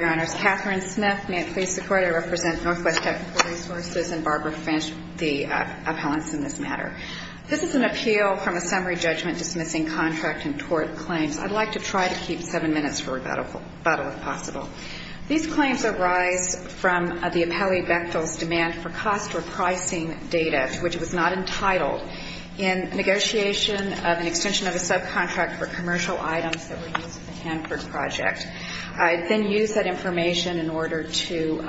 Your Honors, Katherine Smith. May it please the Court, I represent Northwest Technical Resources and Barbara Finch, the appellants in this matter. This is an appeal from a summary judgment dismissing contract and tort claims. I'd like to try to keep seven minutes for rebuttal if possible. These claims arise from the appellee Bechtel's demand for cost repricing data which was not entitled in negotiation of an extension of a subcontract for commercial items that were used in the Hanford project. I'd then use that information in order to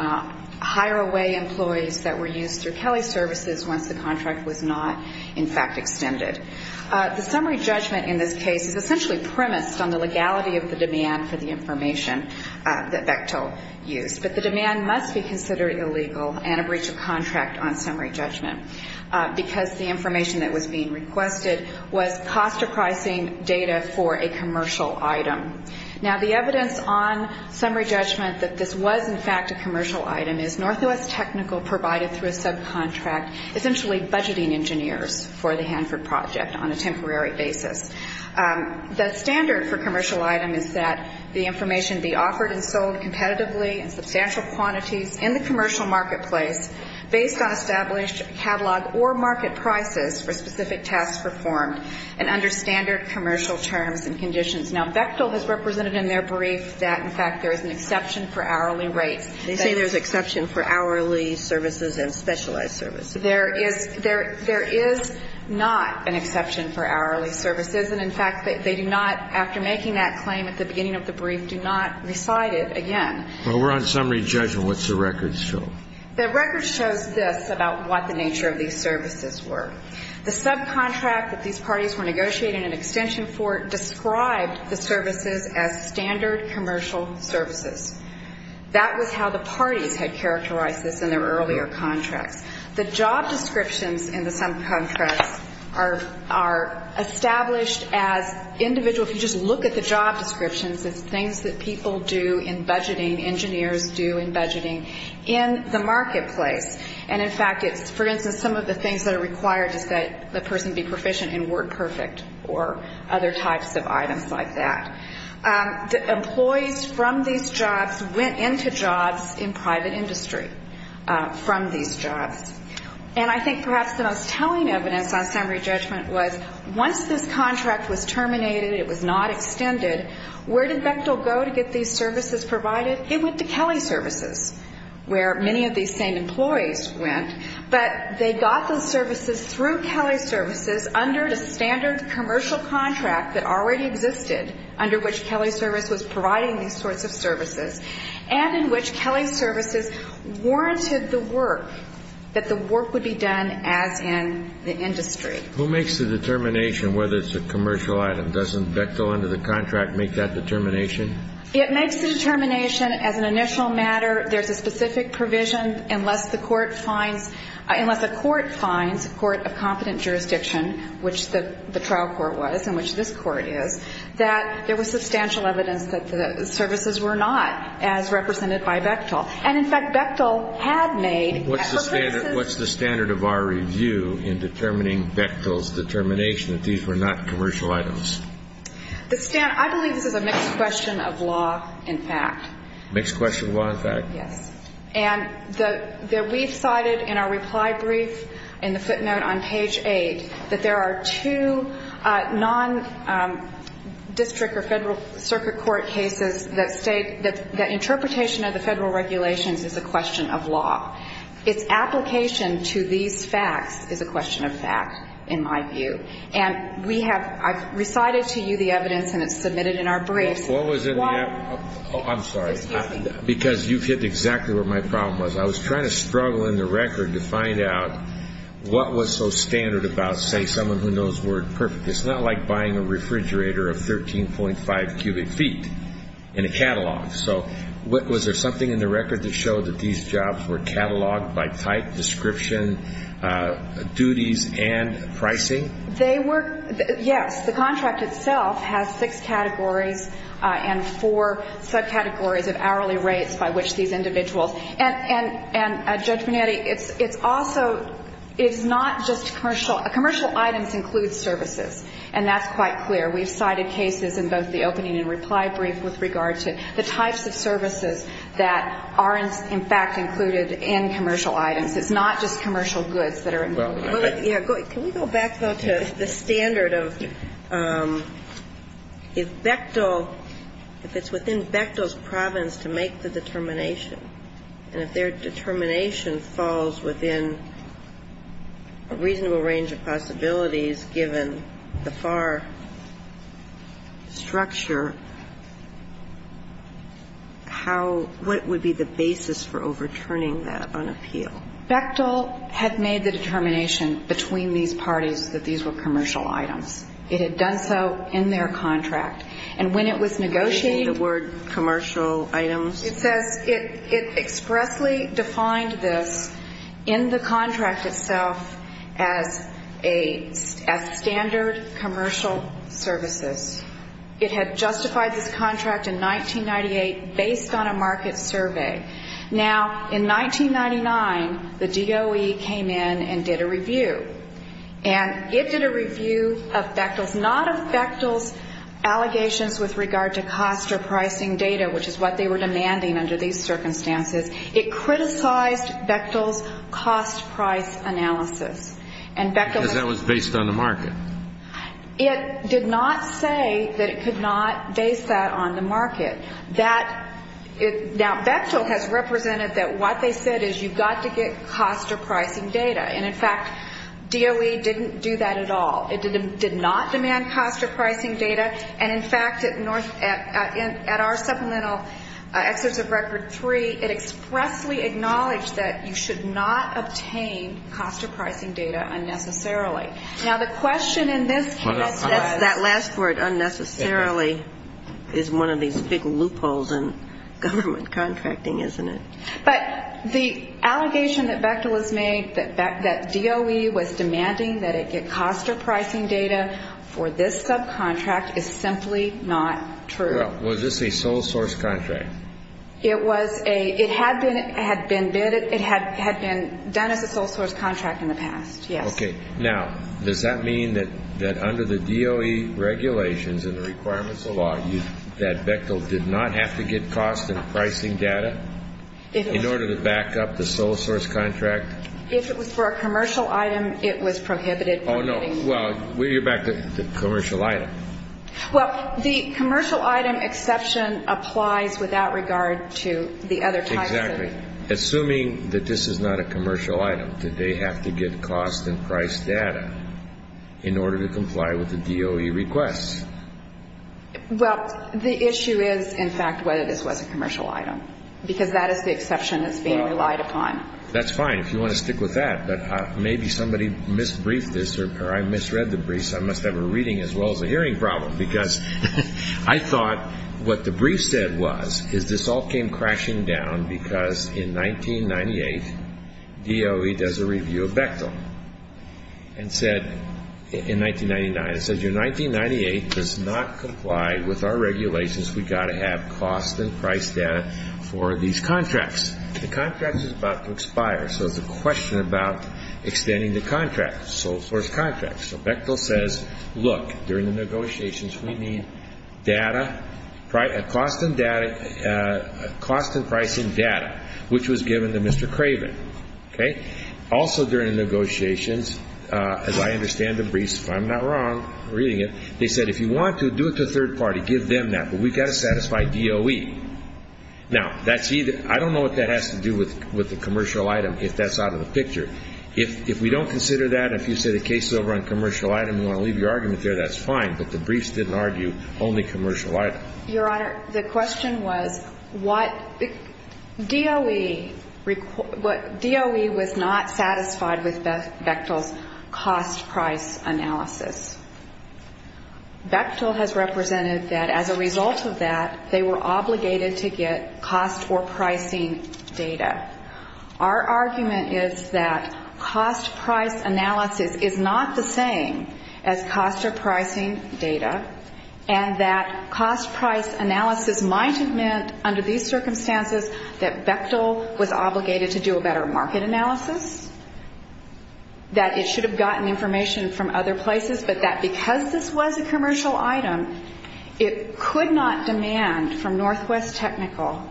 hire away employees that were used through Kelley Services once the contract was not in fact extended. The summary judgment in this case is essentially premised on the legality of the demand for the information that Bechtel used. But the demand must be considered illegal and a breach of contract on summary judgment because the information that was being requested was cost repricing data for a commercial item. Now the evidence on summary judgment that this was in fact a commercial item is Northwest Technical provided through a subcontract essentially budgeting engineers for the Hanford project on a temporary basis. The standard for commercial item is that the information be offered and sold competitively in substantial quantities in the commercial marketplace based on established catalog or market prices for specific tasks performed and under standard commercial terms and conditions. Now Bechtel has represented in their brief that in fact there is an exception for hourly rates. They say there's an exception for hourly services and specialized services. There is not an exception for hourly services and in fact they do not, after making that claim at the beginning of the brief, do not recite it again. Well, we're on summary judgment. What's the record show? The record shows this about what the nature of these services were. The subcontract that these parties were negotiating an extension for described the services as standard commercial services. That was how the parties had characterized this in their earlier contracts. The job descriptions in the subcontracts are established as individual, if you just look at the job descriptions, it's things that people do in budgeting, engineers do in budgeting in the marketplace. And in fact it's, for instance, some of the things that are required is that the person be proficient in WordPerfect or other types of items like that. Employees from these jobs went into jobs in private industry from these jobs. And I think perhaps the most telling evidence on summary judgment was once this contract was terminated, it was not extended, where did Bechtel go to get these services provided? It went to Kelly Services, where many of these same employees went. But they got those services through Kelly Services under the standard commercial contract that already existed under which Kelly Service was providing these sorts of services, and in which Kelly Services warranted the work, that the work would be done as in the industry. Who makes the determination whether it's a commercial item? Doesn't Bechtel under the contract make that determination? It makes the determination as an initial matter, there's a specific provision, unless the court finds, unless the court finds, court of competent jurisdiction, which the trial court was and which this court is, that there was substantial evidence that the services were not as represented by Bechtel. And in fact Bechtel had made, for instance What's the standard of our review in determining Bechtel's determination that these were not commercial items? I believe this is a mixed question of law and fact. Mixed question of law and fact? Yes. And we've cited in our reply brief, in the footnote on page eight, that there are two non-district or federal circuit court cases that state that interpretation of the application to these facts is a question of fact, in my view. And we have, I've recited to you the evidence and it's submitted in our briefs. What was in the evidence? Why? I'm sorry. Excuse me. Because you've hit exactly where my problem was. I was trying to struggle in the record to find out what was so standard about, say, someone who knows WordPerfect. It's not like buying a refrigerator of 13.5 cubic feet in a catalog. So was there something in the record that showed that these jobs were cataloged by type, description, duties, and pricing? They were, yes. The contract itself has six categories and four subcategories of hourly rates by which these individuals, and Judge Bonetti, it's also, it's not just commercial. Commercial items include services. And that's quite clear. We've cited cases in both the province, in fact, included in commercial items. It's not just commercial goods that are included. Can we go back, though, to the standard of if Bechtel, if it's within Bechtel's province to make the determination, and if their determination falls within a reasonable range of possibilities given the FAR structure, how, what would be the basis for overturning that on appeal? Bechtel had made the determination between these parties that these were commercial items. It had done so in their contract. And when it was negotiated the word commercial items, it says it expressly defined this in the contract itself as commercial as a, as standard commercial services. It had justified this contract in 1998 based on a market survey. Now, in 1999, the DOE came in and did a review. And it did a review of Bechtel's, not of Bechtel's allegations with regard to cost or pricing data, which is what they were demanding under these circumstances. It criticized Bechtel's cost-price analysis. And Bechtel Because that was based on the market. It did not say that it could not base that on the market. That, now, Bechtel has represented that what they said is you've got to get cost or pricing data. And, in fact, DOE didn't do that at all. It did not demand cost or pricing data. And, in fact, at North, at our supplemental excerpts of Record 3, it expressly acknowledged that you should not obtain cost or pricing data unnecessarily. Now, the question in this case is That last word, unnecessarily, is one of these big loopholes in government contracting, isn't it? But the allegation that Bechtel has made that DOE was demanding that it get cost or pricing data for this subcontract is simply not true. Well, was this a sole source contract? It was a, it had been bid, it had been done as a sole source contract in the past, yes. Okay. Now, does that mean that under the DOE regulations and the requirements of law, that Bechtel did not have to get cost and pricing data in order to back up the sole source contract? If it was for a commercial item, it was prohibited from doing Oh, no. Well, we'll get back to the commercial item. Well, the commercial item exception applies without regard to the other types of Exactly. Assuming that this is not a commercial item, did they have to get cost and price data in order to comply with the DOE requests? Well, the issue is, in fact, whether this was a commercial item, because that is the exception that's being relied upon. That's fine if you want to stick with that, but maybe somebody mis-briefed this, or I misread the brief, so I must have a reading as well as a hearing problem, because I thought what the brief said was, is this all came crashing down because in 1998, DOE does a review of Bechtel, and said, in 1999, it says, your 1998 does not comply with our regulations, we've got to have cost and price data for these contracts. The contract is about to expire, so it's a question about extending the contract, sole source contract, so Bechtel says, look, during the negotiations, we need data, cost and pricing data, which was given to Mr. Craven, okay? Also during the negotiations, as I understand the briefs, if I'm not wrong, reading it, they said, if you want to, do it to a third party, give them that, but we've got to satisfy DOE. Now, that's either, I don't know what that has to do with the commercial item, if that's out of the picture. If we don't consider that, if you say the case is over on commercial item, you want to leave your argument there, that's fine, but the briefs didn't argue only commercial item. Your Honor, the question was, what, DOE was not satisfied with Bechtel's cost price analysis. Bechtel has represented that as a result of that, they were obligated to get cost or pricing data. Our argument is that cost price analysis is not the same as cost or pricing data, and that cost price analysis might have meant under these circumstances that Bechtel was obligated to do a better market analysis, that it should have gotten information from other places, but that because this was a commercial item, it could not demand from Northwest Technical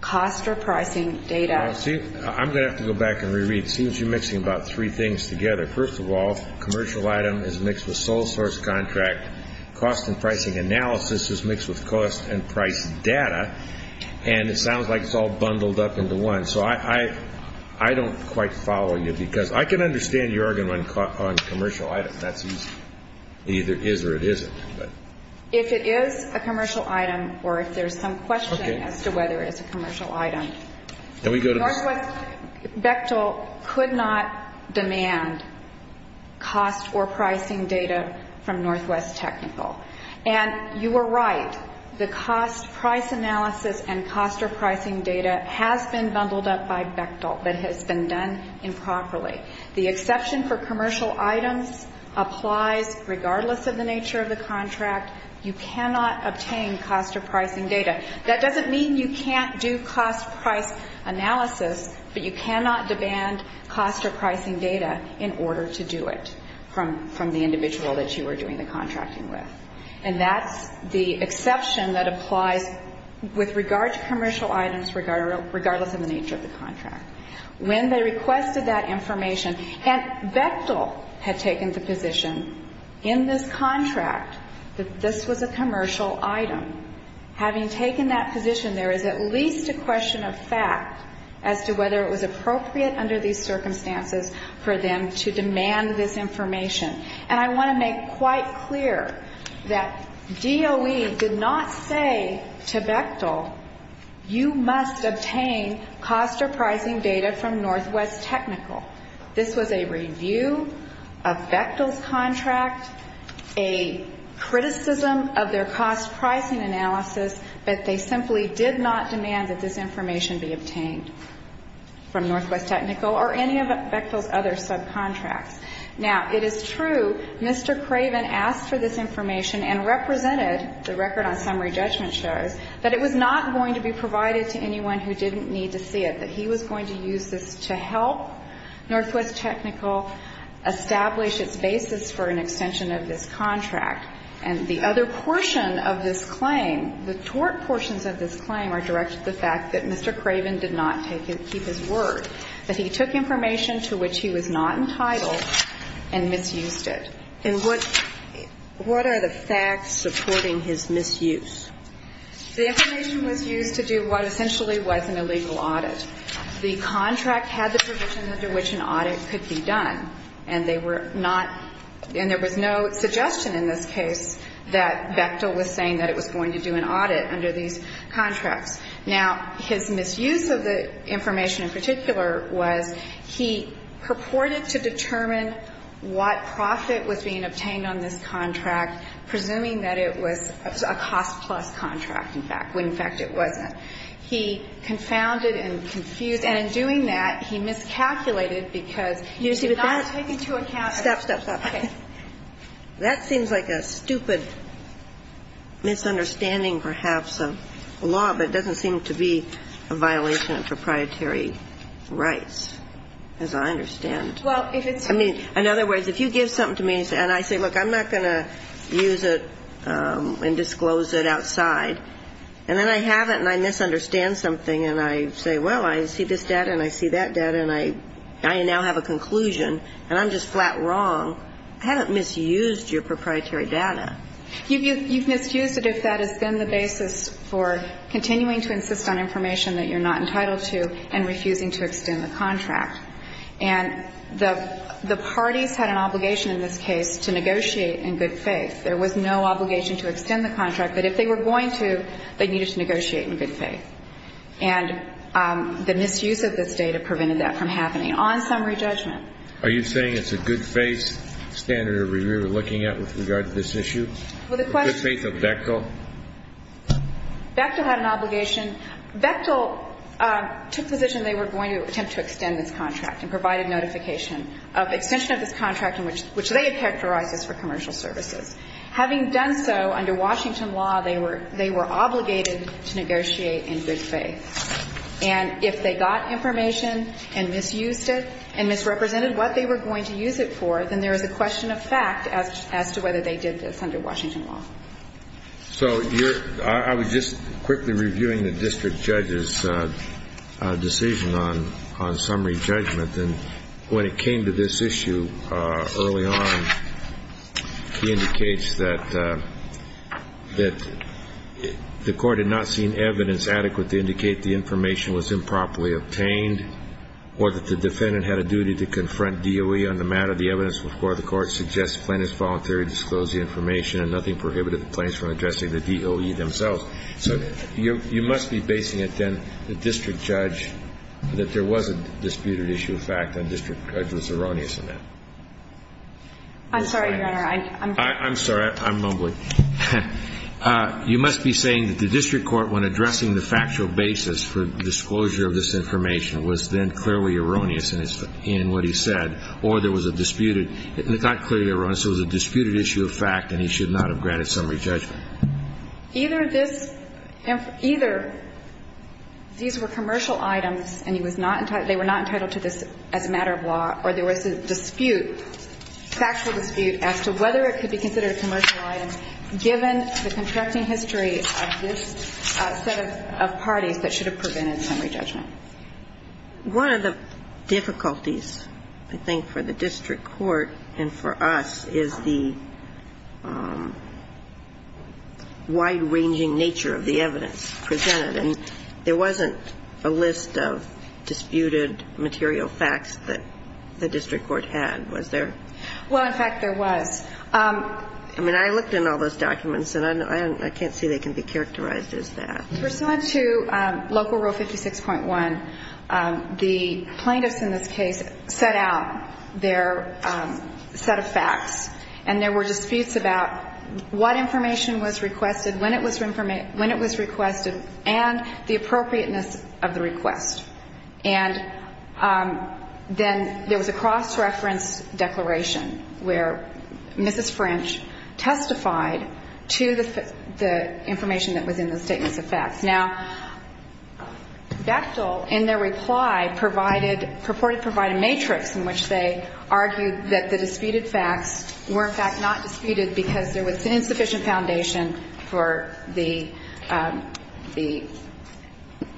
cost or pricing data. See, I'm going to have to go back and re-read. It seems you're mixing about three things together. First of all, commercial item is mixed with sole source contract, cost and pricing analysis is mixed with cost and price data, and it sounds like it's all bundled up into one, so I don't quite follow you, because I can understand your argument on commercial item, that's easy. Either it is or it isn't. If it is a commercial item, or if there's some question as to whether it is a commercial item, Bechtel could not demand cost or pricing data from Northwest Technical. And you were right, the cost price analysis and cost or pricing data has been bundled up by Bechtel, but has been done improperly. The exception for commercial items applies regardless of the nature of the contract. You cannot obtain cost or pricing data. That doesn't mean you can't do cost price analysis, but you cannot demand cost or pricing data in order to do it from the individual that you were doing the contracting with. And that's the exception that applies with regard to commercial items, regardless of the nature of the contract. When they requested that information, and Bechtel had taken the position in this contract that this was a commercial item. Having taken that position, there is at least a question of fact as to whether it was appropriate under these circumstances for them to demand this information. And I want to make quite clear that DOE did not say to Bechtel, you must obtain cost or pricing data from Northwest Technical. This was a review of Bechtel's contract, a criticism of their cost pricing analysis, but they simply did not demand that this information be obtained from Northwest Technical or any of Bechtel's other subcontracts. Now, it is true Mr. Craven asked for this information and represented, the record on summary judgment shows, that it was not going to be provided to anyone who didn't need to see it, that he was going to use this to help Northwest Technical establish its basis for an extension of this contract. And the other portion of this claim, the tort portions of this claim are directed to the fact that Mr. Craven did not keep his word, that he took information to which he was not entitled and misused it. And what are the facts supporting his misuse? The information was used to do what essentially was an illegal audit. The contract had the provision under which an audit could be done, and they were not, and there was no suggestion in this case that Bechtel was saying that it was going to do an audit under these contracts. Now, his misuse of the information in particular was he purported to determine what profit was being obtained on this contract, presuming that it was a cost-plus contract, in fact, when, in fact, it wasn't. He confounded and confused, and in doing that, he miscalculated because he was not taking into account the case. Kagan. That seems like a stupid misunderstanding, perhaps, of the law, but it doesn't seem to be a violation of proprietary rights, as I understand. Well, if it's too much. I mean, in other words, if you give something to me and I say, look, I'm not going to use it and disclose it outside, and then I have it and I misunderstand something and I say, well, I see this data and I see that data and I now have a conclusion and I'm just flat wrong, I haven't misused your proprietary data. You've misused it if that has been the basis for continuing to insist on information that you're not entitled to and refusing to extend the contract. And the parties had an obligation in this case to negotiate in good faith. There was no obligation to extend the contract, but if they were going to, they needed to negotiate in good faith. And the misuse of this data prevented that from happening. On summary judgment. Are you saying it's a good faith standard of review we're looking at with regard to this issue? Well, the question is. A good faith of Bechtel? Bechtel had an obligation. Bechtel took position they were going to attempt to extend this contract and provided notification of extension of this contract in which they had characterized this for commercial services. Having done so under Washington law, they were obligated to negotiate in good faith. And if they got information and misused it and misrepresented what they were going to use it for, then there is a question of fact as to whether they did this under Washington law. So I was just quickly reviewing the district judge's decision on summary judgment. And when it came to this issue early on, he indicates that the court had not seen evidence adequate to indicate the information was improperly obtained or that the defendant had a duty to confront DOE on the matter. The evidence before the court suggests plaintiffs voluntarily disclosed the information and nothing prohibited the plaintiffs from addressing the DOE themselves. So you must be basing it then, the district judge, that there was a disputed issue of fact and the district judge was erroneous in that. I'm sorry, Your Honor. I'm sorry. I'm mumbling. You must be saying that the district court, when addressing the factual basis for disclosure of this information, was then clearly erroneous in what he said, or there was a disputed – it's not clearly erroneous. It was a disputed issue of fact and he should not have granted summary judgment. Either this – either these were commercial items and he was not – they were not entitled to this as a matter of law or there was a dispute, factual dispute, as to whether it could be considered a commercial item given the contracting history of this set of parties that should have prevented summary judgment. One of the difficulties, I think, for the district court and for us is the wide-ranging nature of the evidence presented. And there wasn't a list of disputed material facts that the district court had, was there? Well, in fact, there was. I mean, I looked in all those documents and I can't see they can be characterized as that. In response to Local Rule 56.1, the plaintiffs in this case set out their set of facts and there were disputes about what information was requested, when it was requested, and the appropriateness of the request. And then there was a cross-reference declaration where Mrs. French testified to the information that was in the statements of facts. Now, Bechtel, in their reply, provided – purported to provide a matrix in which they argued that the disputed facts were, in fact, not disputed because there was insufficient foundation for the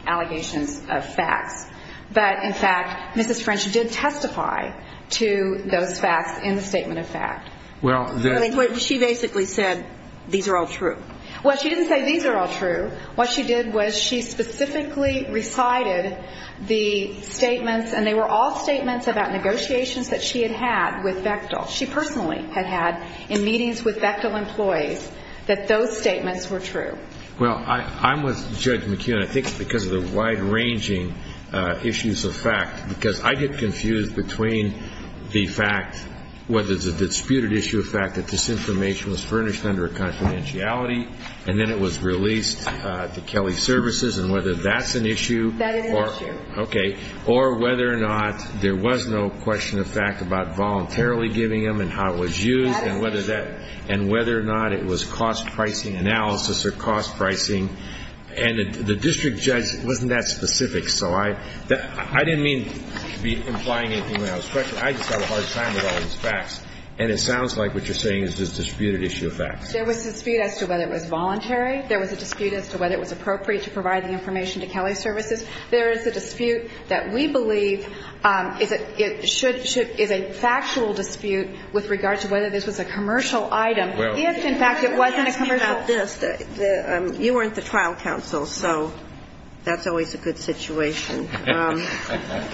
allegations of facts. But, in fact, Mrs. French did testify to those facts in the statement of fact. She basically said, these are all true. Well, she didn't say these are all true. What she did was she specifically recited the statements, and they were all statements about negotiations that she had had with Bechtel. She personally had had in meetings with Bechtel employees that those statements were true. Well, I'm with Judge McKeon. I think it's because of the wide-ranging issues of fact. Because I get confused between the fact – whether it's a disputed issue of fact that this information was furnished under a confidentiality, and then it was released to Kelly Services, and whether that's an issue. That is an issue. Okay. Or whether or not there was no question of fact about voluntarily giving them and how it was used, and whether that – and whether or not it was cost-pricing analysis or cost-pricing. And the district judge wasn't that specific. So I didn't mean to be implying anything when I was questioning. I just have a hard time with all these facts. And it sounds like what you're saying is a disputed issue of fact. There was a dispute as to whether it was voluntary. There was a dispute as to whether it was appropriate to provide the information to Kelly Services. There is a dispute that we believe is a factual dispute with regard to whether this was a commercial item. If, in fact, it wasn't a commercial – Let me ask you about this. You weren't the trial counsel, so that's always a good situation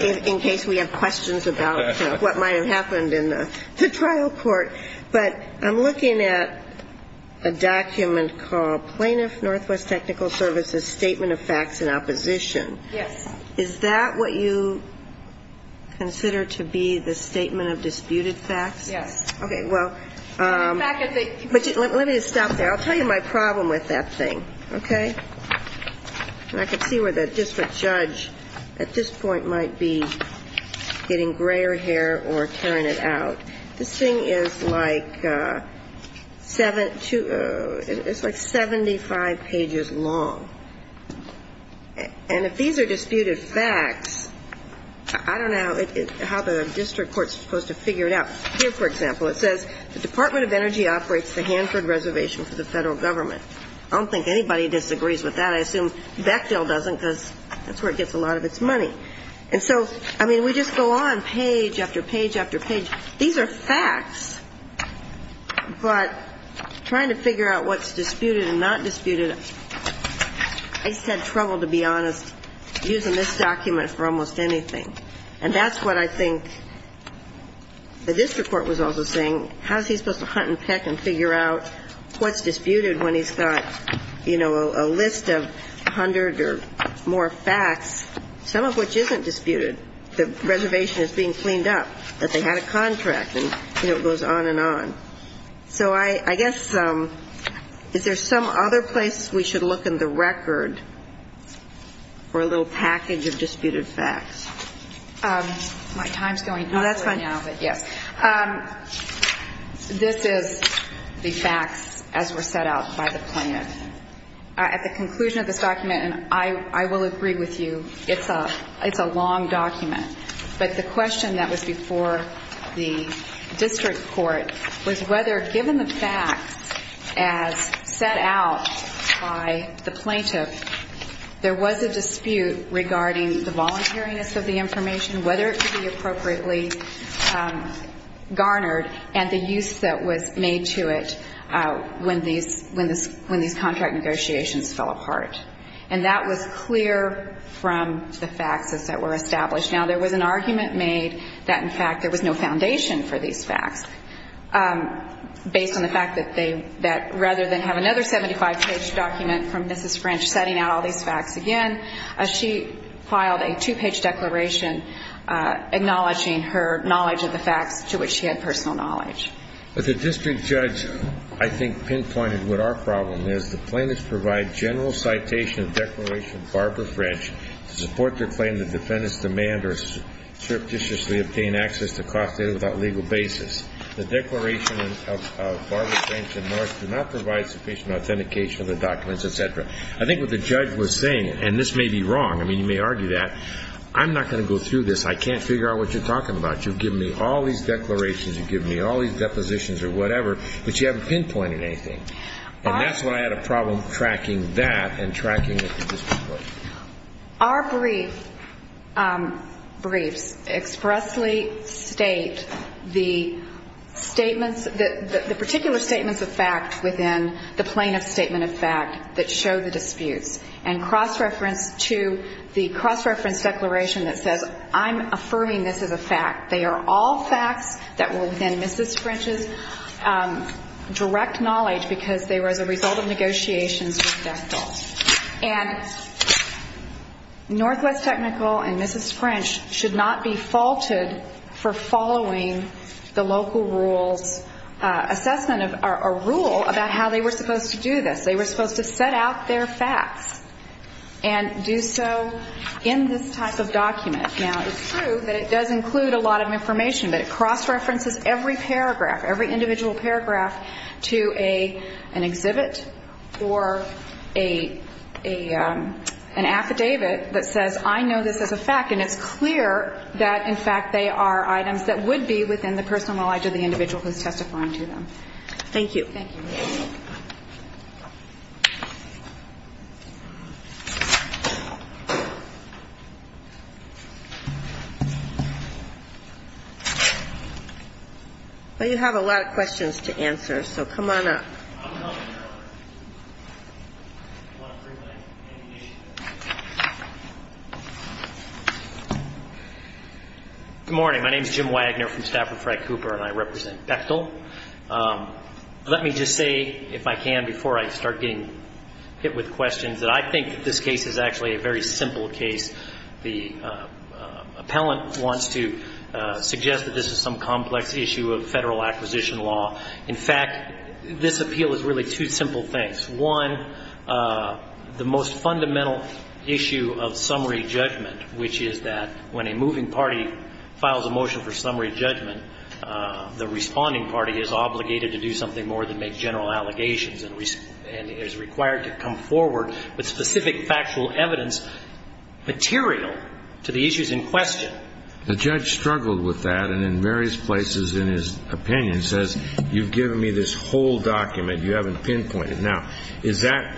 in case we have questions about what might have happened in the trial court. But I'm looking at a document called Plaintiff Northwest Technical Services Statement of Facts in Opposition. Yes. Is that what you consider to be the statement of disputed facts? Yes. Okay. Well, let me stop there. I'll tell you my problem with that thing, okay? And I can see where the district judge at this point might be getting grayer hair or tearing it out. This thing is like 75 pages long. And if these are disputed facts, I don't know how the district court is supposed to figure it out. Here, for example, it says, I don't think anybody disagrees with that. I assume Bechdel doesn't because that's where it gets a lot of its money. And so, I mean, we just go on page after page after page. These are facts, but trying to figure out what's disputed and not disputed, I just had trouble, to be honest, using this document for almost anything. And that's what I think the district court was also saying. How is he supposed to hunt and peck and figure out what's disputed when he's got, you know, a list of 100 or more facts, some of which isn't disputed? The reservation is being cleaned up, that they had a contract, and, you know, it goes on and on. So I guess is there some other place we should look in the record for a little package of disputed facts? My time's going up right now, but yes. This is the facts as were set out by the plaintiff. At the conclusion of this document, and I will agree with you, it's a long document. But the question that was before the district court was whether, given the facts as set out by the plaintiff, there was a dispute regarding the voluntariness of the information, whether it could be appropriately garnered, and the use that was made to it when these contract negotiations fell apart. And that was clear from the facts as that were established. Now, there was an argument made that, in fact, there was no foundation for these facts, based on the fact that rather than have another 75-page document from Mrs. French after setting out all these facts again, she filed a two-page declaration acknowledging her knowledge of the facts to which she had personal knowledge. But the district judge, I think, pinpointed what our problem is. The plaintiffs provide general citation of Declaration of Barbara French to support their claim that defendants demand or surreptitiously obtain access to cost data without legal basis. The Declaration of Barbara French and North do not provide sufficient authentication of the documents, et cetera. I think what the judge was saying, and this may be wrong, I mean, you may argue that, I'm not going to go through this, I can't figure out what you're talking about. You've given me all these declarations, you've given me all these depositions or whatever, but you haven't pinpointed anything. And that's why I had a problem tracking that and tracking the dispute. Our briefs expressly state the statements, the particular statements of fact within the plaintiff's statement of fact that show the disputes and cross-reference to the cross-reference declaration that says I'm affirming this as a fact. They are all facts that were within Mrs. French's direct knowledge because they were as a result of negotiations with Bethel. And Northwest Technical and Mrs. French should not be faulted for following the local rules assessment or rule about how they were supposed to do this. They were supposed to set out their facts and do so in this type of document. Now, it's true that it does include a lot of information, but it cross-references every paragraph, to an exhibit or an affidavit that says I know this as a fact, and it's clear that, in fact, they are items that would be within the personal knowledge of the individual who's testifying to them. Thank you. Thank you. Well, you have a lot of questions to answer, so come on up. Good morning. My name is Jim Wagner from Stafford, Frank Cooper, and I represent Bethel. Let me just say, if I can, before I start getting hit with questions, that I think that this case is actually a very simple case. The appellant wants to suggest that this is some complex issue of federal acquisition law. In fact, this appeal is really two simple things. One, the most fundamental issue of summary judgment, which is that when a moving party files a motion for summary judgment, the responding party is obligated to do something more than make general allegations and is required to come forward with specific factual evidence material to the issues in question. The judge struggled with that, and in various places in his opinion says, you've given me this whole document. You haven't pinpointed. Now, is that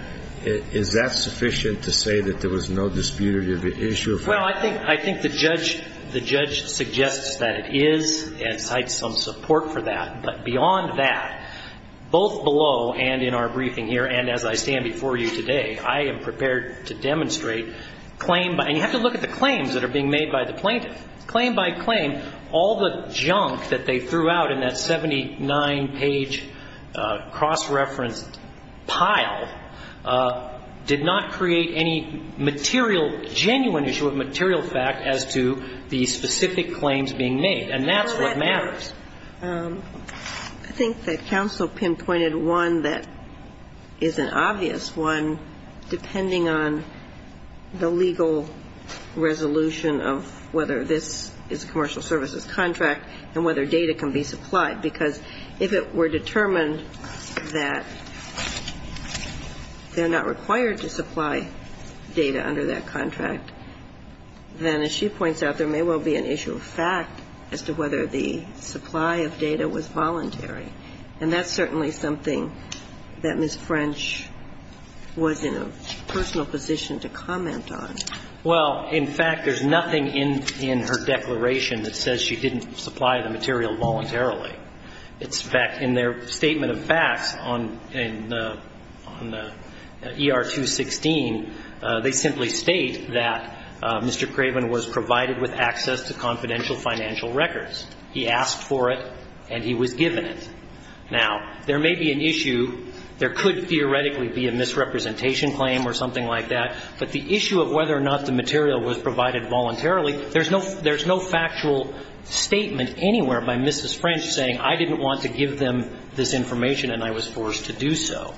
sufficient to say that there was no disputative issue? Well, I think the judge suggests that it is and cites some support for that. But beyond that, both below and in our briefing here and as I stand before you today, I am prepared to demonstrate claim by ‑‑ claim by claim all the junk that they threw out in that 79-page cross-referenced pile did not create any material, genuine issue of material fact as to the specific claims being made. And that's what matters. I think that counsel pinpointed one that is an obvious one, and that is depending on the legal resolution of whether this is a commercial services contract and whether data can be supplied. Because if it were determined that they're not required to supply data under that contract, then as she points out, there may well be an issue of fact as to whether the supply of data was voluntary. And that's certainly something that Ms. French was in a personal position to comment on. Well, in fact, there's nothing in her declaration that says she didn't supply the material voluntarily. In fact, in their statement of facts on the ER 216, they simply state that Mr. Craven was provided with access to confidential financial records. He asked for it and he was given it. Now, there may be an issue. There could theoretically be a misrepresentation claim or something like that. But the issue of whether or not the material was provided voluntarily, there's no factual statement anywhere by Mrs. French saying I didn't want to give them this information and I was forced to do so.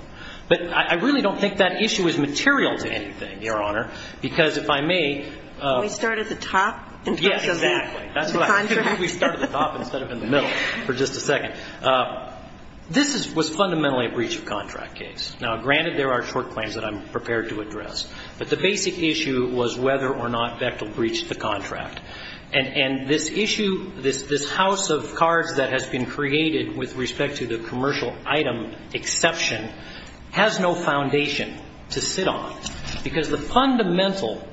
But I really don't think that issue is material to anything, Your Honor, because if I may ---- Can we start at the top in terms of the contract? Yes, exactly. The contract. Can we start at the top instead of in the middle for just a second? This was fundamentally a breach of contract case. Now, granted, there are short claims that I'm prepared to address. But the basic issue was whether or not Bechtel breached the contract. And this issue, this house of cards that has been created with respect to the commercial item exception has no foundation to sit on, because the fundamental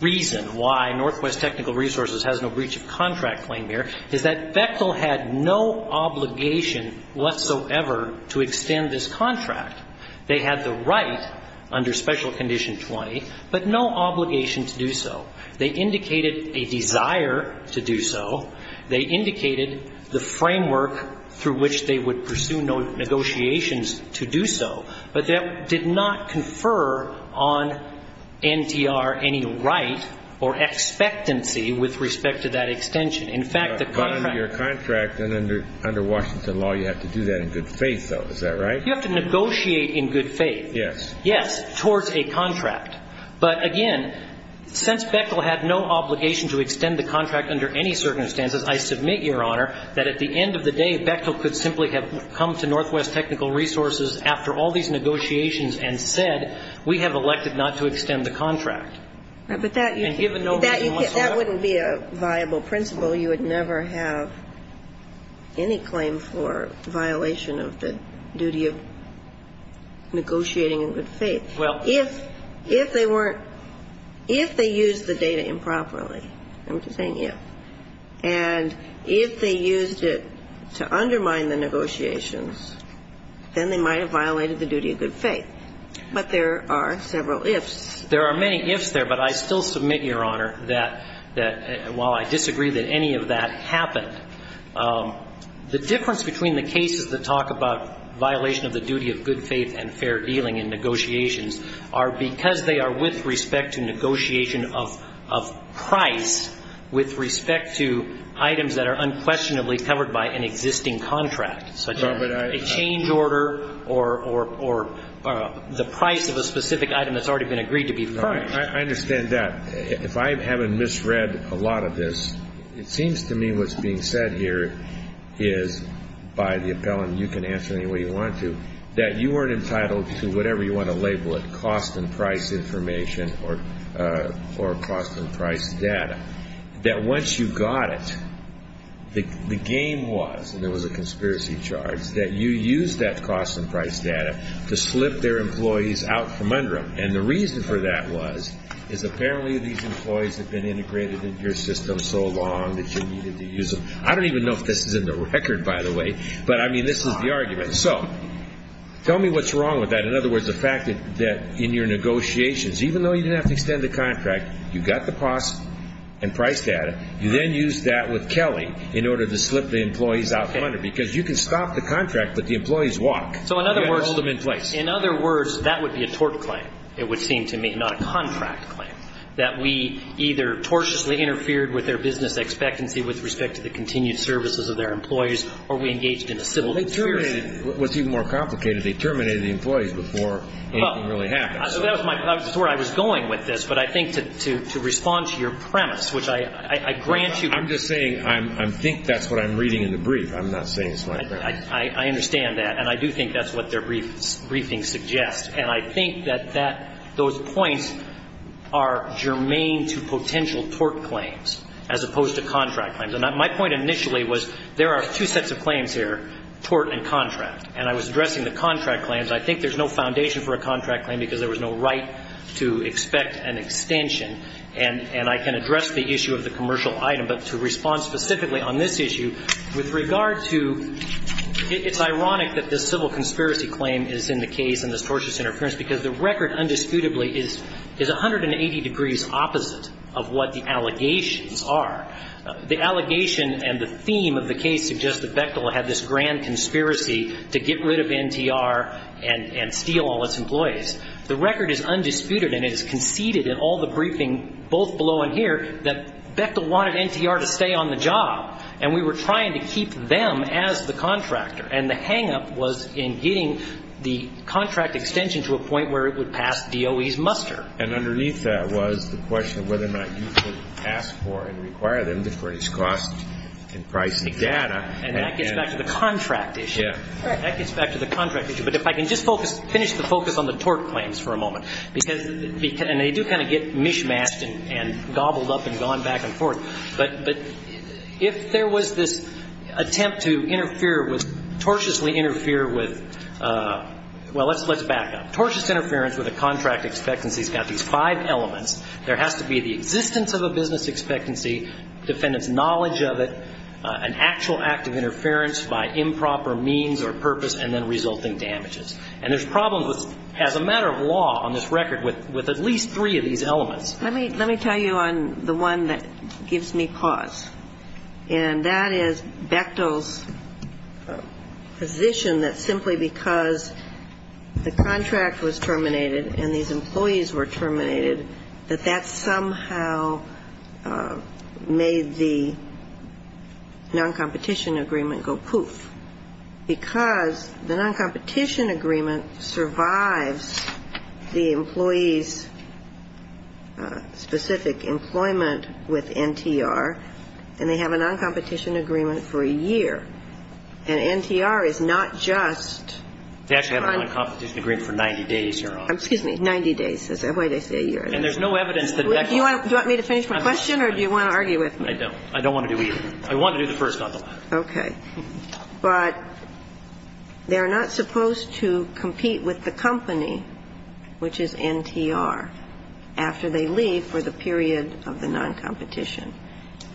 reason why Northwest Technical Resources has no breach of contract claim here is that Bechtel had no obligation whatsoever to extend this contract. They had the right under Special Condition 20, but no obligation to do so. They indicated a desire to do so. They indicated the framework through which they would pursue negotiations to do so. But that did not confer on NTR any right or expectancy with respect to that extension. In fact, the contract ---- But under your contract and under Washington law, you have to do that in good faith, though. Is that right? You have to negotiate in good faith. Yes. Yes, towards a contract. But, again, since Bechtel had no obligation to extend the contract under any circumstances, I submit, Your Honor, that at the end of the day, Bechtel could simply have come to Northwest Technical Resources after all these negotiations and said, we have elected not to extend the contract. But that ---- And given no obligation whatsoever ---- That wouldn't be a viable principle. You would never have any claim for violation of the duty of negotiating in good faith. Well ---- If they weren't ---- if they used the data improperly, I'm just saying if, and if they used it to then they might have violated the duty of good faith. But there are several ifs. There are many ifs there. But I still submit, Your Honor, that while I disagree that any of that happened, the difference between the cases that talk about violation of the duty of good faith and fair dealing in negotiations are because they are with respect to negotiation of price with respect to items that are unquestionably covered by an existing contract, such as a change order or the price of a specific item that's already been agreed to be purchased. I understand that. If I haven't misread a lot of this, it seems to me what's being said here is, by the appellant, you can answer any way you want to, that you weren't entitled to whatever you want to label it, cost and price information or cost and price data. That once you got it, the game was, and there was a conspiracy charge, that you used that cost and price data to slip their employees out from under them. And the reason for that was, is apparently these employees have been integrated in your system so long that you needed to use them. I don't even know if this is in the record, by the way, but, I mean, this is the argument. So tell me what's wrong with that. In other words, the fact that in your negotiations, even though you didn't have to extend the contract, you got the cost and price data, you then used that with Kelly in order to slip the employees out from under, because you can stop the contract, but the employees walk. So in other words, that would be a tort claim, it would seem to me, not a contract claim, that we either tortiously interfered with their business expectancy with respect to the continued services of their employees or we engaged in a civil conspiracy. What's even more complicated, they terminated the employees before anything really happened. So that was where I was going with this, but I think to respond to your premise, which I grant you. I'm just saying I think that's what I'm reading in the brief. I'm not saying it's my premise. I understand that, and I do think that's what their briefing suggests. And I think that those points are germane to potential tort claims as opposed to contract claims. And my point initially was there are two sets of claims here, tort and contract. And I was addressing the contract claims. I think there's no foundation for a contract claim because there was no right to expect an extension. And I can address the issue of the commercial item, but to respond specifically on this issue, with regard to it's ironic that this civil conspiracy claim is in the case and this tortious interference because the record undisputably is 180 degrees opposite of what the allegations are. The allegation and the theme of the case suggests that Bechtel had this grand conspiracy to get rid of NTR and steal all its employees. The record is undisputed, and it is conceded in all the briefing, both below and here, that Bechtel wanted NTR to stay on the job, and we were trying to keep them as the contractor. And the hangup was in getting the contract extension to a point where it would pass DOE's muster. And underneath that was the question of whether or not you could ask for and require them to raise costs in pricing data. And that gets back to the contract issue. That gets back to the contract issue. But if I can just finish the focus on the tort claims for a moment, and they do kind of get mishmashed and gobbled up and gone back and forth, but if there was this attempt to tortuously interfere with, well, let's back up. Tortious interference with a contract expectancy has got these five elements. There has to be the existence of a business expectancy, defendant's knowledge of it, an actual act of interference by improper means or purpose, and then resulting damages. And there's problems as a matter of law on this record with at least three of these elements. Let me tell you on the one that gives me pause, and that is Bechtel's position that simply because the contract was terminated and these employees were terminated, that that somehow made the non-competition agreement go poof. Because the non-competition agreement survives the employee's specific employment with NTR, and they have a non-competition agreement for a year. And NTR is not just uncompetent. They have a non-competition agreement for 90 days, Your Honor. Excuse me, 90 days. That's the way they say a year. And there's no evidence that Bechtel. Do you want me to finish my question or do you want to argue with me? I don't. I don't want to do either. I want to do the first, not the latter. Okay. But they're not supposed to compete with the company, which is NTR, after they leave for the period of the non-competition.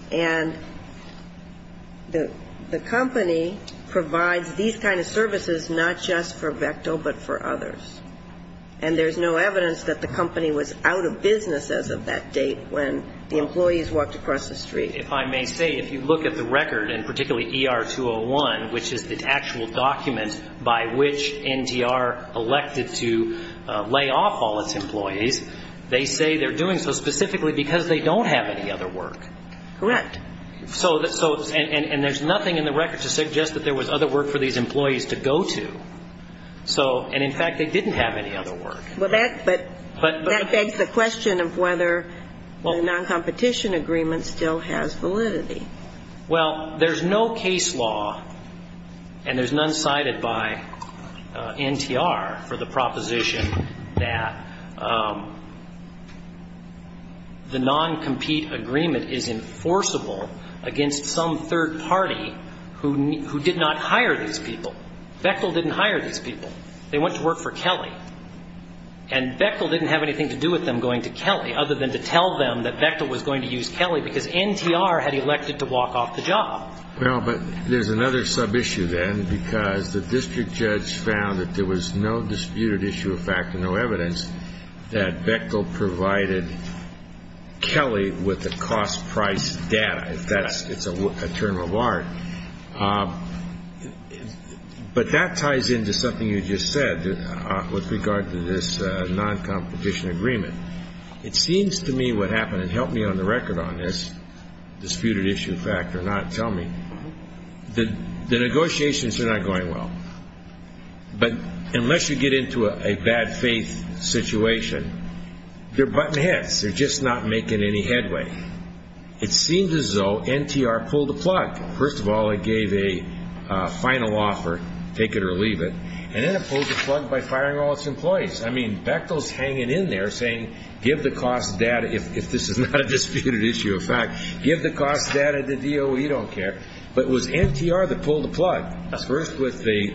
And the company provides these kind of services not just for Bechtel but for others. And there's no evidence that the company was out of business as of that date when the employees walked across the street. If I may say, if you look at the record, and particularly ER-201, which is the actual document by which NTR elected to lay off all its employees, they say they're doing so specifically because they don't have any other work. Correct. And there's nothing in the record to suggest that there was other work for these employees to go to. And, in fact, they didn't have any other work. But that begs the question of whether the non-competition agreement still has validity. Well, there's no case law, and there's none cited by NTR for the proposition that the non-compete agreement is enforceable against some third party who did not hire these people. Bechtel didn't hire these people. They went to work for Kelly. And Bechtel didn't have anything to do with them going to Kelly other than to tell them that Bechtel was going to use Kelly because NTR had elected to walk off the job. Well, but there's another sub-issue then, because the district judge found that there was no disputed issue of fact and no evidence that Bechtel provided Kelly with the cost price data, if that's a term of art. But that ties into something you just said with regard to this non-competition agreement. It seems to me what happened, and help me on the record on this disputed issue of fact or not, tell me, the negotiations are not going well. But unless you get into a bad faith situation, they're button heads. They're just not making any headway. It seems as though NTR pulled the plug. First of all, it gave a final offer, take it or leave it, and then it pulled the plug by firing all its employees. I mean, Bechtel's hanging in there saying give the cost data, if this is not a disputed issue of fact, give the cost data to DOE, we don't care. But it was NTR that pulled the plug. First, with the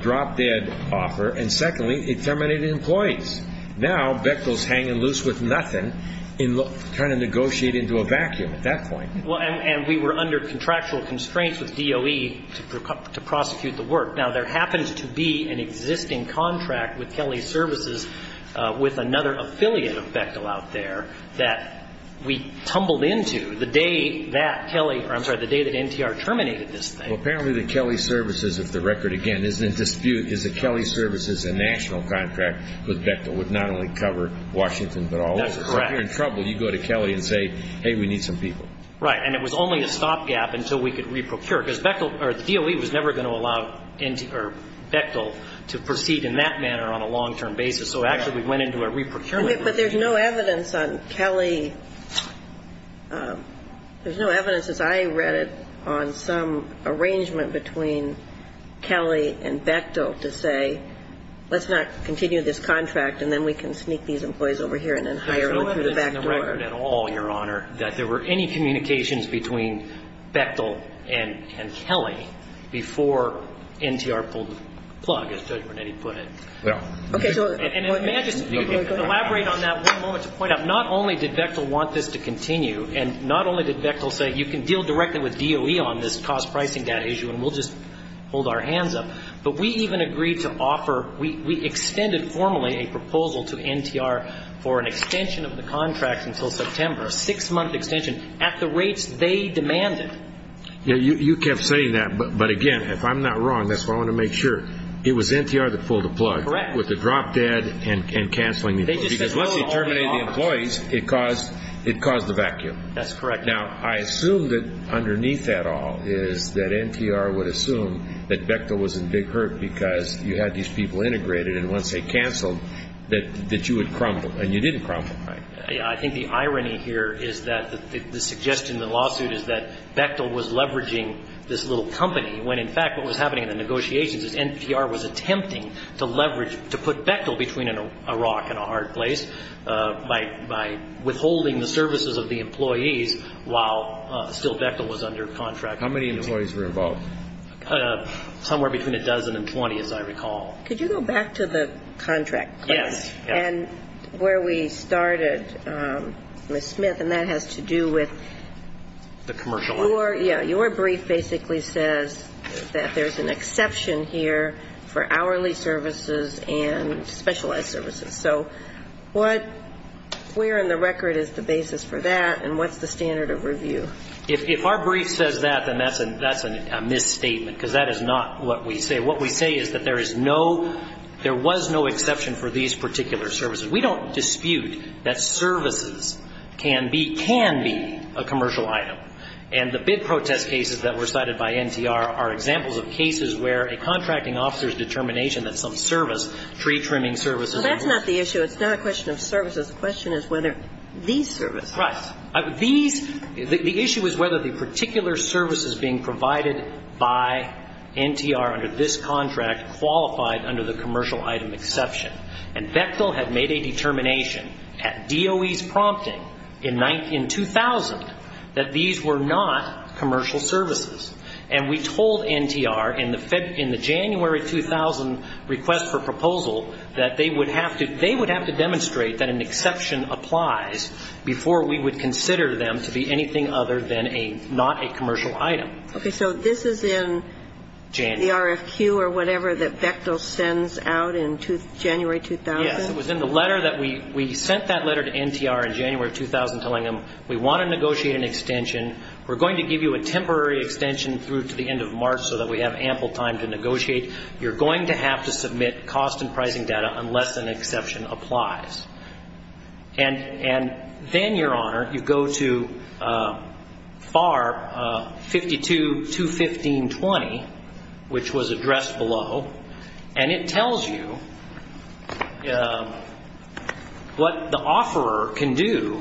drop-dead offer, and secondly, it terminated employees. Now Bechtel's hanging loose with nothing and trying to negotiate into a vacuum at that point. And we were under contractual constraints with DOE to prosecute the work. Now, there happens to be an existing contract with Kelly Services with another affiliate of Bechtel out there that we tumbled into the day that Kelly or I'm sorry, the day that NTR terminated this thing. Well, apparently the Kelly Services, if the record again isn't in dispute, is that Kelly Services' national contract with Bechtel would not only cover Washington but all over. That's correct. So if you're in trouble, you go to Kelly and say, hey, we need some people. Right. And it was only a stopgap until we could re-procure, because Bechtel or DOE was never going to allow Bechtel to proceed in that manner on a long-term basis. So actually we went into a re-procurement. But there's no evidence on Kelly. There's no evidence, as I read it, on some arrangement between Kelly and Bechtel to say, let's not continue this contract and then we can sneak these employees over here and then hire them through the back door. There's no evidence in the record at all, Your Honor, that there were any communications between Bechtel and Kelly before NTR pulled the plug, as Judge Bernetti put it. Yeah. And may I just elaborate on that one moment to point out, not only did Bechtel want this to continue and not only did Bechtel say you can deal directly with DOE on this cost pricing data issue and we'll just hold our hands up, but we even agreed to offer, we extended formally a proposal to NTR for an extension of the contract until September, a six-month extension at the rates they demanded. You kept saying that, but again, if I'm not wrong, that's why I want to make sure, it was NTR that pulled the plug. Correct. With the drop dead and canceling the employees. Because once you terminated the employees, it caused the vacuum. That's correct. Now, I assume that underneath that all is that NTR would assume that Bechtel was in big hurt because you had these people integrated and once they canceled that you would crumble, and you didn't crumble, right? I think the irony here is that the suggestion in the lawsuit is that Bechtel was leveraging this little company when in fact what was happening in the negotiations is NTR was attempting to leverage, to put Bechtel between a rock and a hard place by withholding the services of the employees while still Bechtel was under contract. How many employees were involved? Somewhere between a dozen and 20, as I recall. Could you go back to the contract? Yes. And where we started, Ms. Smith, and that has to do with the commercial. Your brief basically says that there's an exception here for hourly services and specialized services. So where in the record is the basis for that and what's the standard of review? If our brief says that, then that's a misstatement because that is not what we say. What we say is that there is no, there was no exception for these particular services. We don't dispute that services can be, can be a commercial item. And the bid protest cases that were cited by NTR are examples of cases where a contracting officer's determination that some service, pre-trimming services. Well, that's not the issue. It's not a question of services. The question is whether these services. Right. These, the issue is whether the particular services being provided by NTR under this contract qualified under the commercial item exception. And Bechtel had made a determination at DOE's prompting in 2000 that these were not commercial services. And we told NTR in the February, in the January 2000 request for proposal that they would have to, they would have to demonstrate that an exception applies before we would consider them to be anything other than a, not a commercial item. Okay. So this is in the RFQ or whatever that Bechtel sends out in January 2000? Yes. It was in the letter that we, we sent that letter to NTR in January 2000 telling them we want to negotiate an extension. We're going to give you a temporary extension through to the end of March so that we have ample time to negotiate. You're going to have to submit cost and pricing data unless an exception applies. And, and then, Your Honor, you go to FAR 52.215.20, which was addressed below, and it tells you what the offeror can do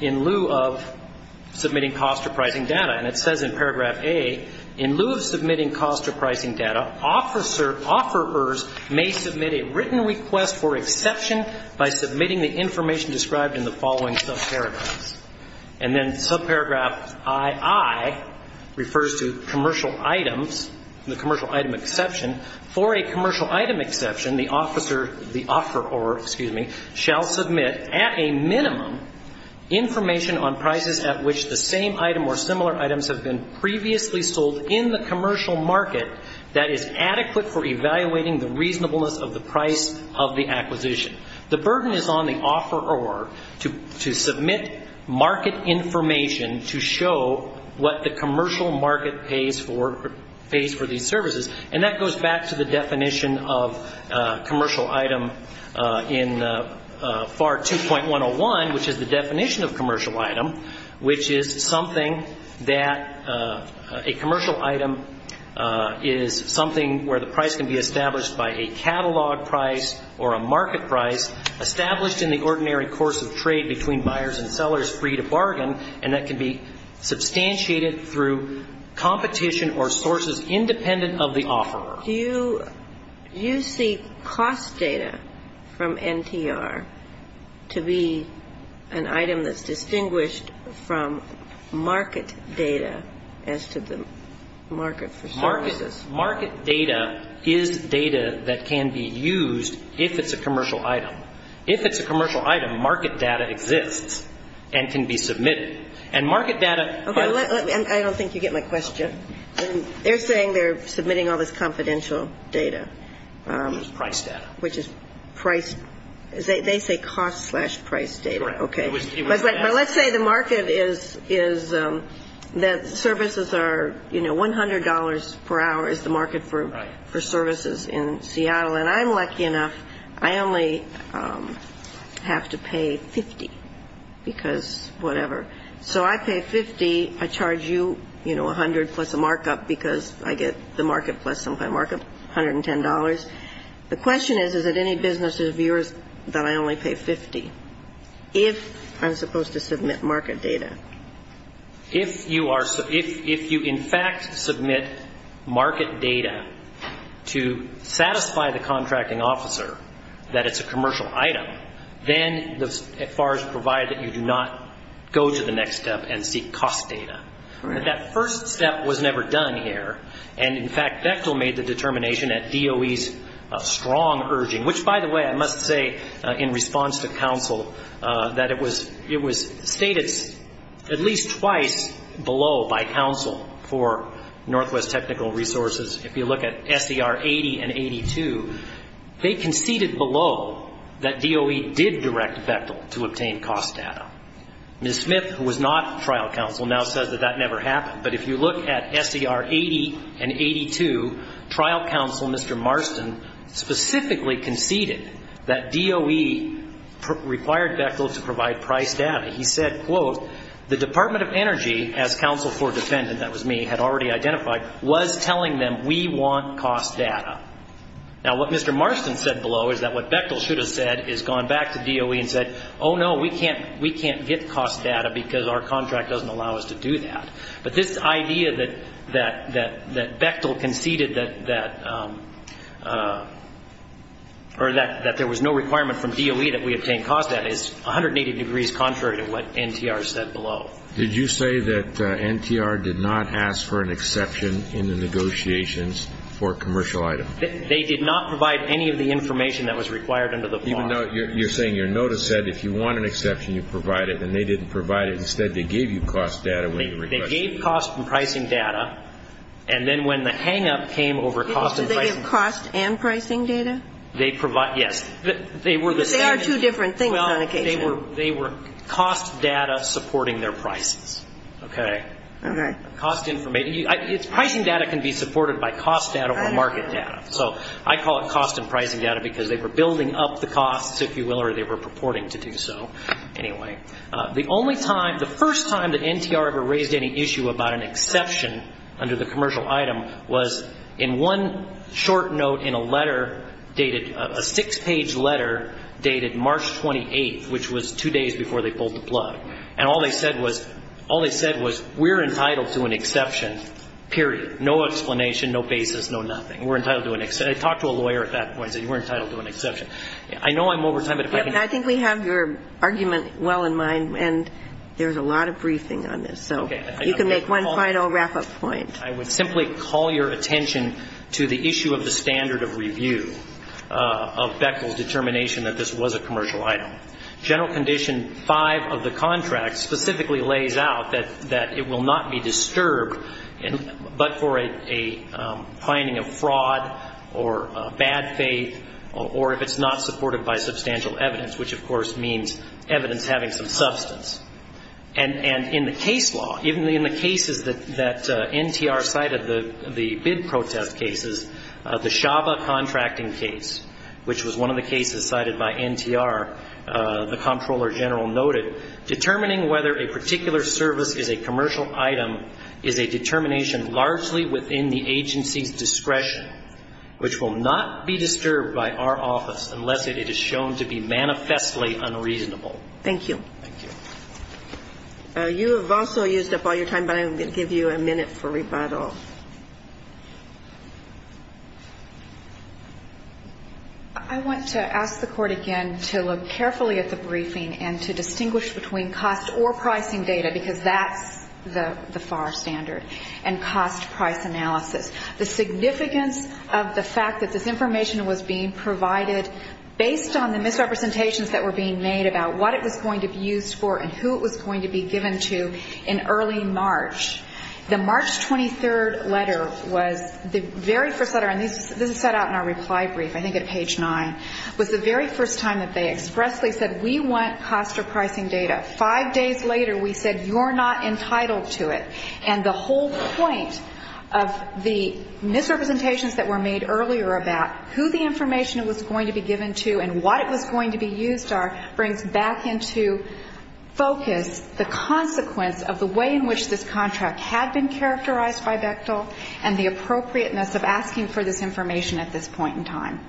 in lieu of submitting cost or pricing data. And it says in paragraph A, in lieu of submitting cost or pricing data, an officer, offerors may submit a written request for exception by submitting the information described in the following subparagraphs. And then subparagraph II refers to commercial items, the commercial item exception. For a commercial item exception, the officer, the offeror, excuse me, shall submit at a minimum information on prices at which the same item or similar items have been previously sold in the commercial market that is adequate for evaluating the reasonableness of the price of the acquisition. The burden is on the offeror to, to submit market information to show what the commercial market pays for, pays for these services. And that goes back to the definition of commercial item in FAR 2.101, which is the definition of commercial item, which is something that a commercial item is something where the price can be established by a catalog price or a market price, established in the ordinary course of trade between buyers and sellers free to bargain, and that can be substantiated through competition or sources independent of the offeror. Do you, do you see cost data from NTR to be an item that's distinguished from market data as to the market for services? Market data is data that can be used if it's a commercial item. If it's a commercial item, market data exists and can be submitted. And market data by the way. I don't think you get my question. They're saying they're submitting all this confidential data. Price data. Which is price, they say cost slash price data. Okay. But let's say the market is, is that services are, you know, $100 per hour is the market for, for services in Seattle, and I'm lucky enough, I only have to pay 50, because whatever. So I pay 50, I charge you, you know, 100 plus a markup, because I get the market plus some kind of markup, $110. The question is, is it any business of yours that I only pay 50, if I'm supposed to submit market data? If you are, if you in fact submit market data to satisfy the contracting officer that it's a commercial item, then as far as you provide that you do not go to the next item. You go to the next step and seek cost data. That first step was never done here. And in fact, Bechtel made the determination at DOE's strong urging, which by the way, I must say, in response to counsel, that it was, it was stated at least twice below by counsel for Northwest Technical Resources. If you look at SDR 80 and 82, they conceded below that DOE did direct Bechtel to obtain cost data. Ms. Smith, who was not a member of the board, was not a member of the board. She was not trial counsel, now says that that never happened. But if you look at SDR 80 and 82, trial counsel, Mr. Marston, specifically conceded that DOE required Bechtel to provide price data. He said, quote, the Department of Energy, as counsel for defendant, that was me, had already identified, was telling them, we want cost data. Now, what Mr. Marston said below is that what Bechtel should have said is gone back to DOE and said, oh, no, we can't, we can't get cost data, because our cost data is not available. Our contract doesn't allow us to do that. But this idea that Bechtel conceded that, or that there was no requirement from DOE that we obtain cost data is 180 degrees contrary to what NTR said below. Did you say that NTR did not ask for an exception in the negotiations for commercial item? They did not provide any of the information that was required under the bar. Even though you're saying your notice said if you want an exception, you provide it, and they didn't provide it. Instead, they gave you cost data when you requested it. They gave cost and pricing data, and then when the hang-up came over cost and pricing data. Did they give cost and pricing data? Yes. Because they are two different things on occasion. They were cost data supporting their prices. Okay? Okay. Cost information. Pricing data can be supported by cost data or market data. So I call it cost and pricing data because they were building up the costs, if you will, or they were purporting to do so. Anyway, the only time, the first time that NTR ever raised any issue about an exception under the commercial item was in one short note in a letter dated, a six-page letter dated March 28th, which was two days before they pulled the plug. And all they said was, we're entitled to an exception, period. No explanation, no basis, no nothing. We're entitled to an exception. I talked to a lawyer at that point and said you were entitled to an exception. I know I'm over time, but if I can... I think we have your argument well in mind, and there's a lot of briefing on this. Okay. So you can make one final wrap-up point. I would simply call your attention to the issue of the standard of review of Beckle's determination that this was a commercial item. General Condition 5 of the contract specifically lays out that it will not be disturbed but for a finding of fraud or bad faith, or if it's not supported by substantial evidence, which, of course, means evidence having some substance. And in the case law, even in the cases that NTR cited, the bid protest cases, the Shaba contracting case, which was one of the cases cited by NTR, was not supported by substantial evidence. As the Comptroller General noted, determining whether a particular service is a commercial item is a determination largely within the agency's discretion, which will not be disturbed by our office unless it is shown to be manifestly unreasonable. Thank you. Thank you. You have also used up all your time, but I'm going to give you a minute for rebuttal. I want to ask the Court again to look carefully at the briefing and to distinguish between cost or pricing data, because that's the FAR standard, and cost-price analysis. The significance of the fact that this information was being provided based on the misrepresentations that were being made about what it was going to be used for and who it was going to be given to in early March. The March 23rd letter was the very first letter, and this is set out in our reply brief, I think at page 9, was the very first time that they expressly said, we want cost or pricing data. Five days later, we said, you're not entitled to it. And the whole point of the misrepresentations that were made earlier about who the information was going to be given to and what it was going to be used for brings back into focus the consequence of the way in which this contract was being used. So I want to ask the Court again to look carefully at the fact that this information was being provided based on the misrepresentations that were being made about what it was going to be used for and who it was going to be given to in early March.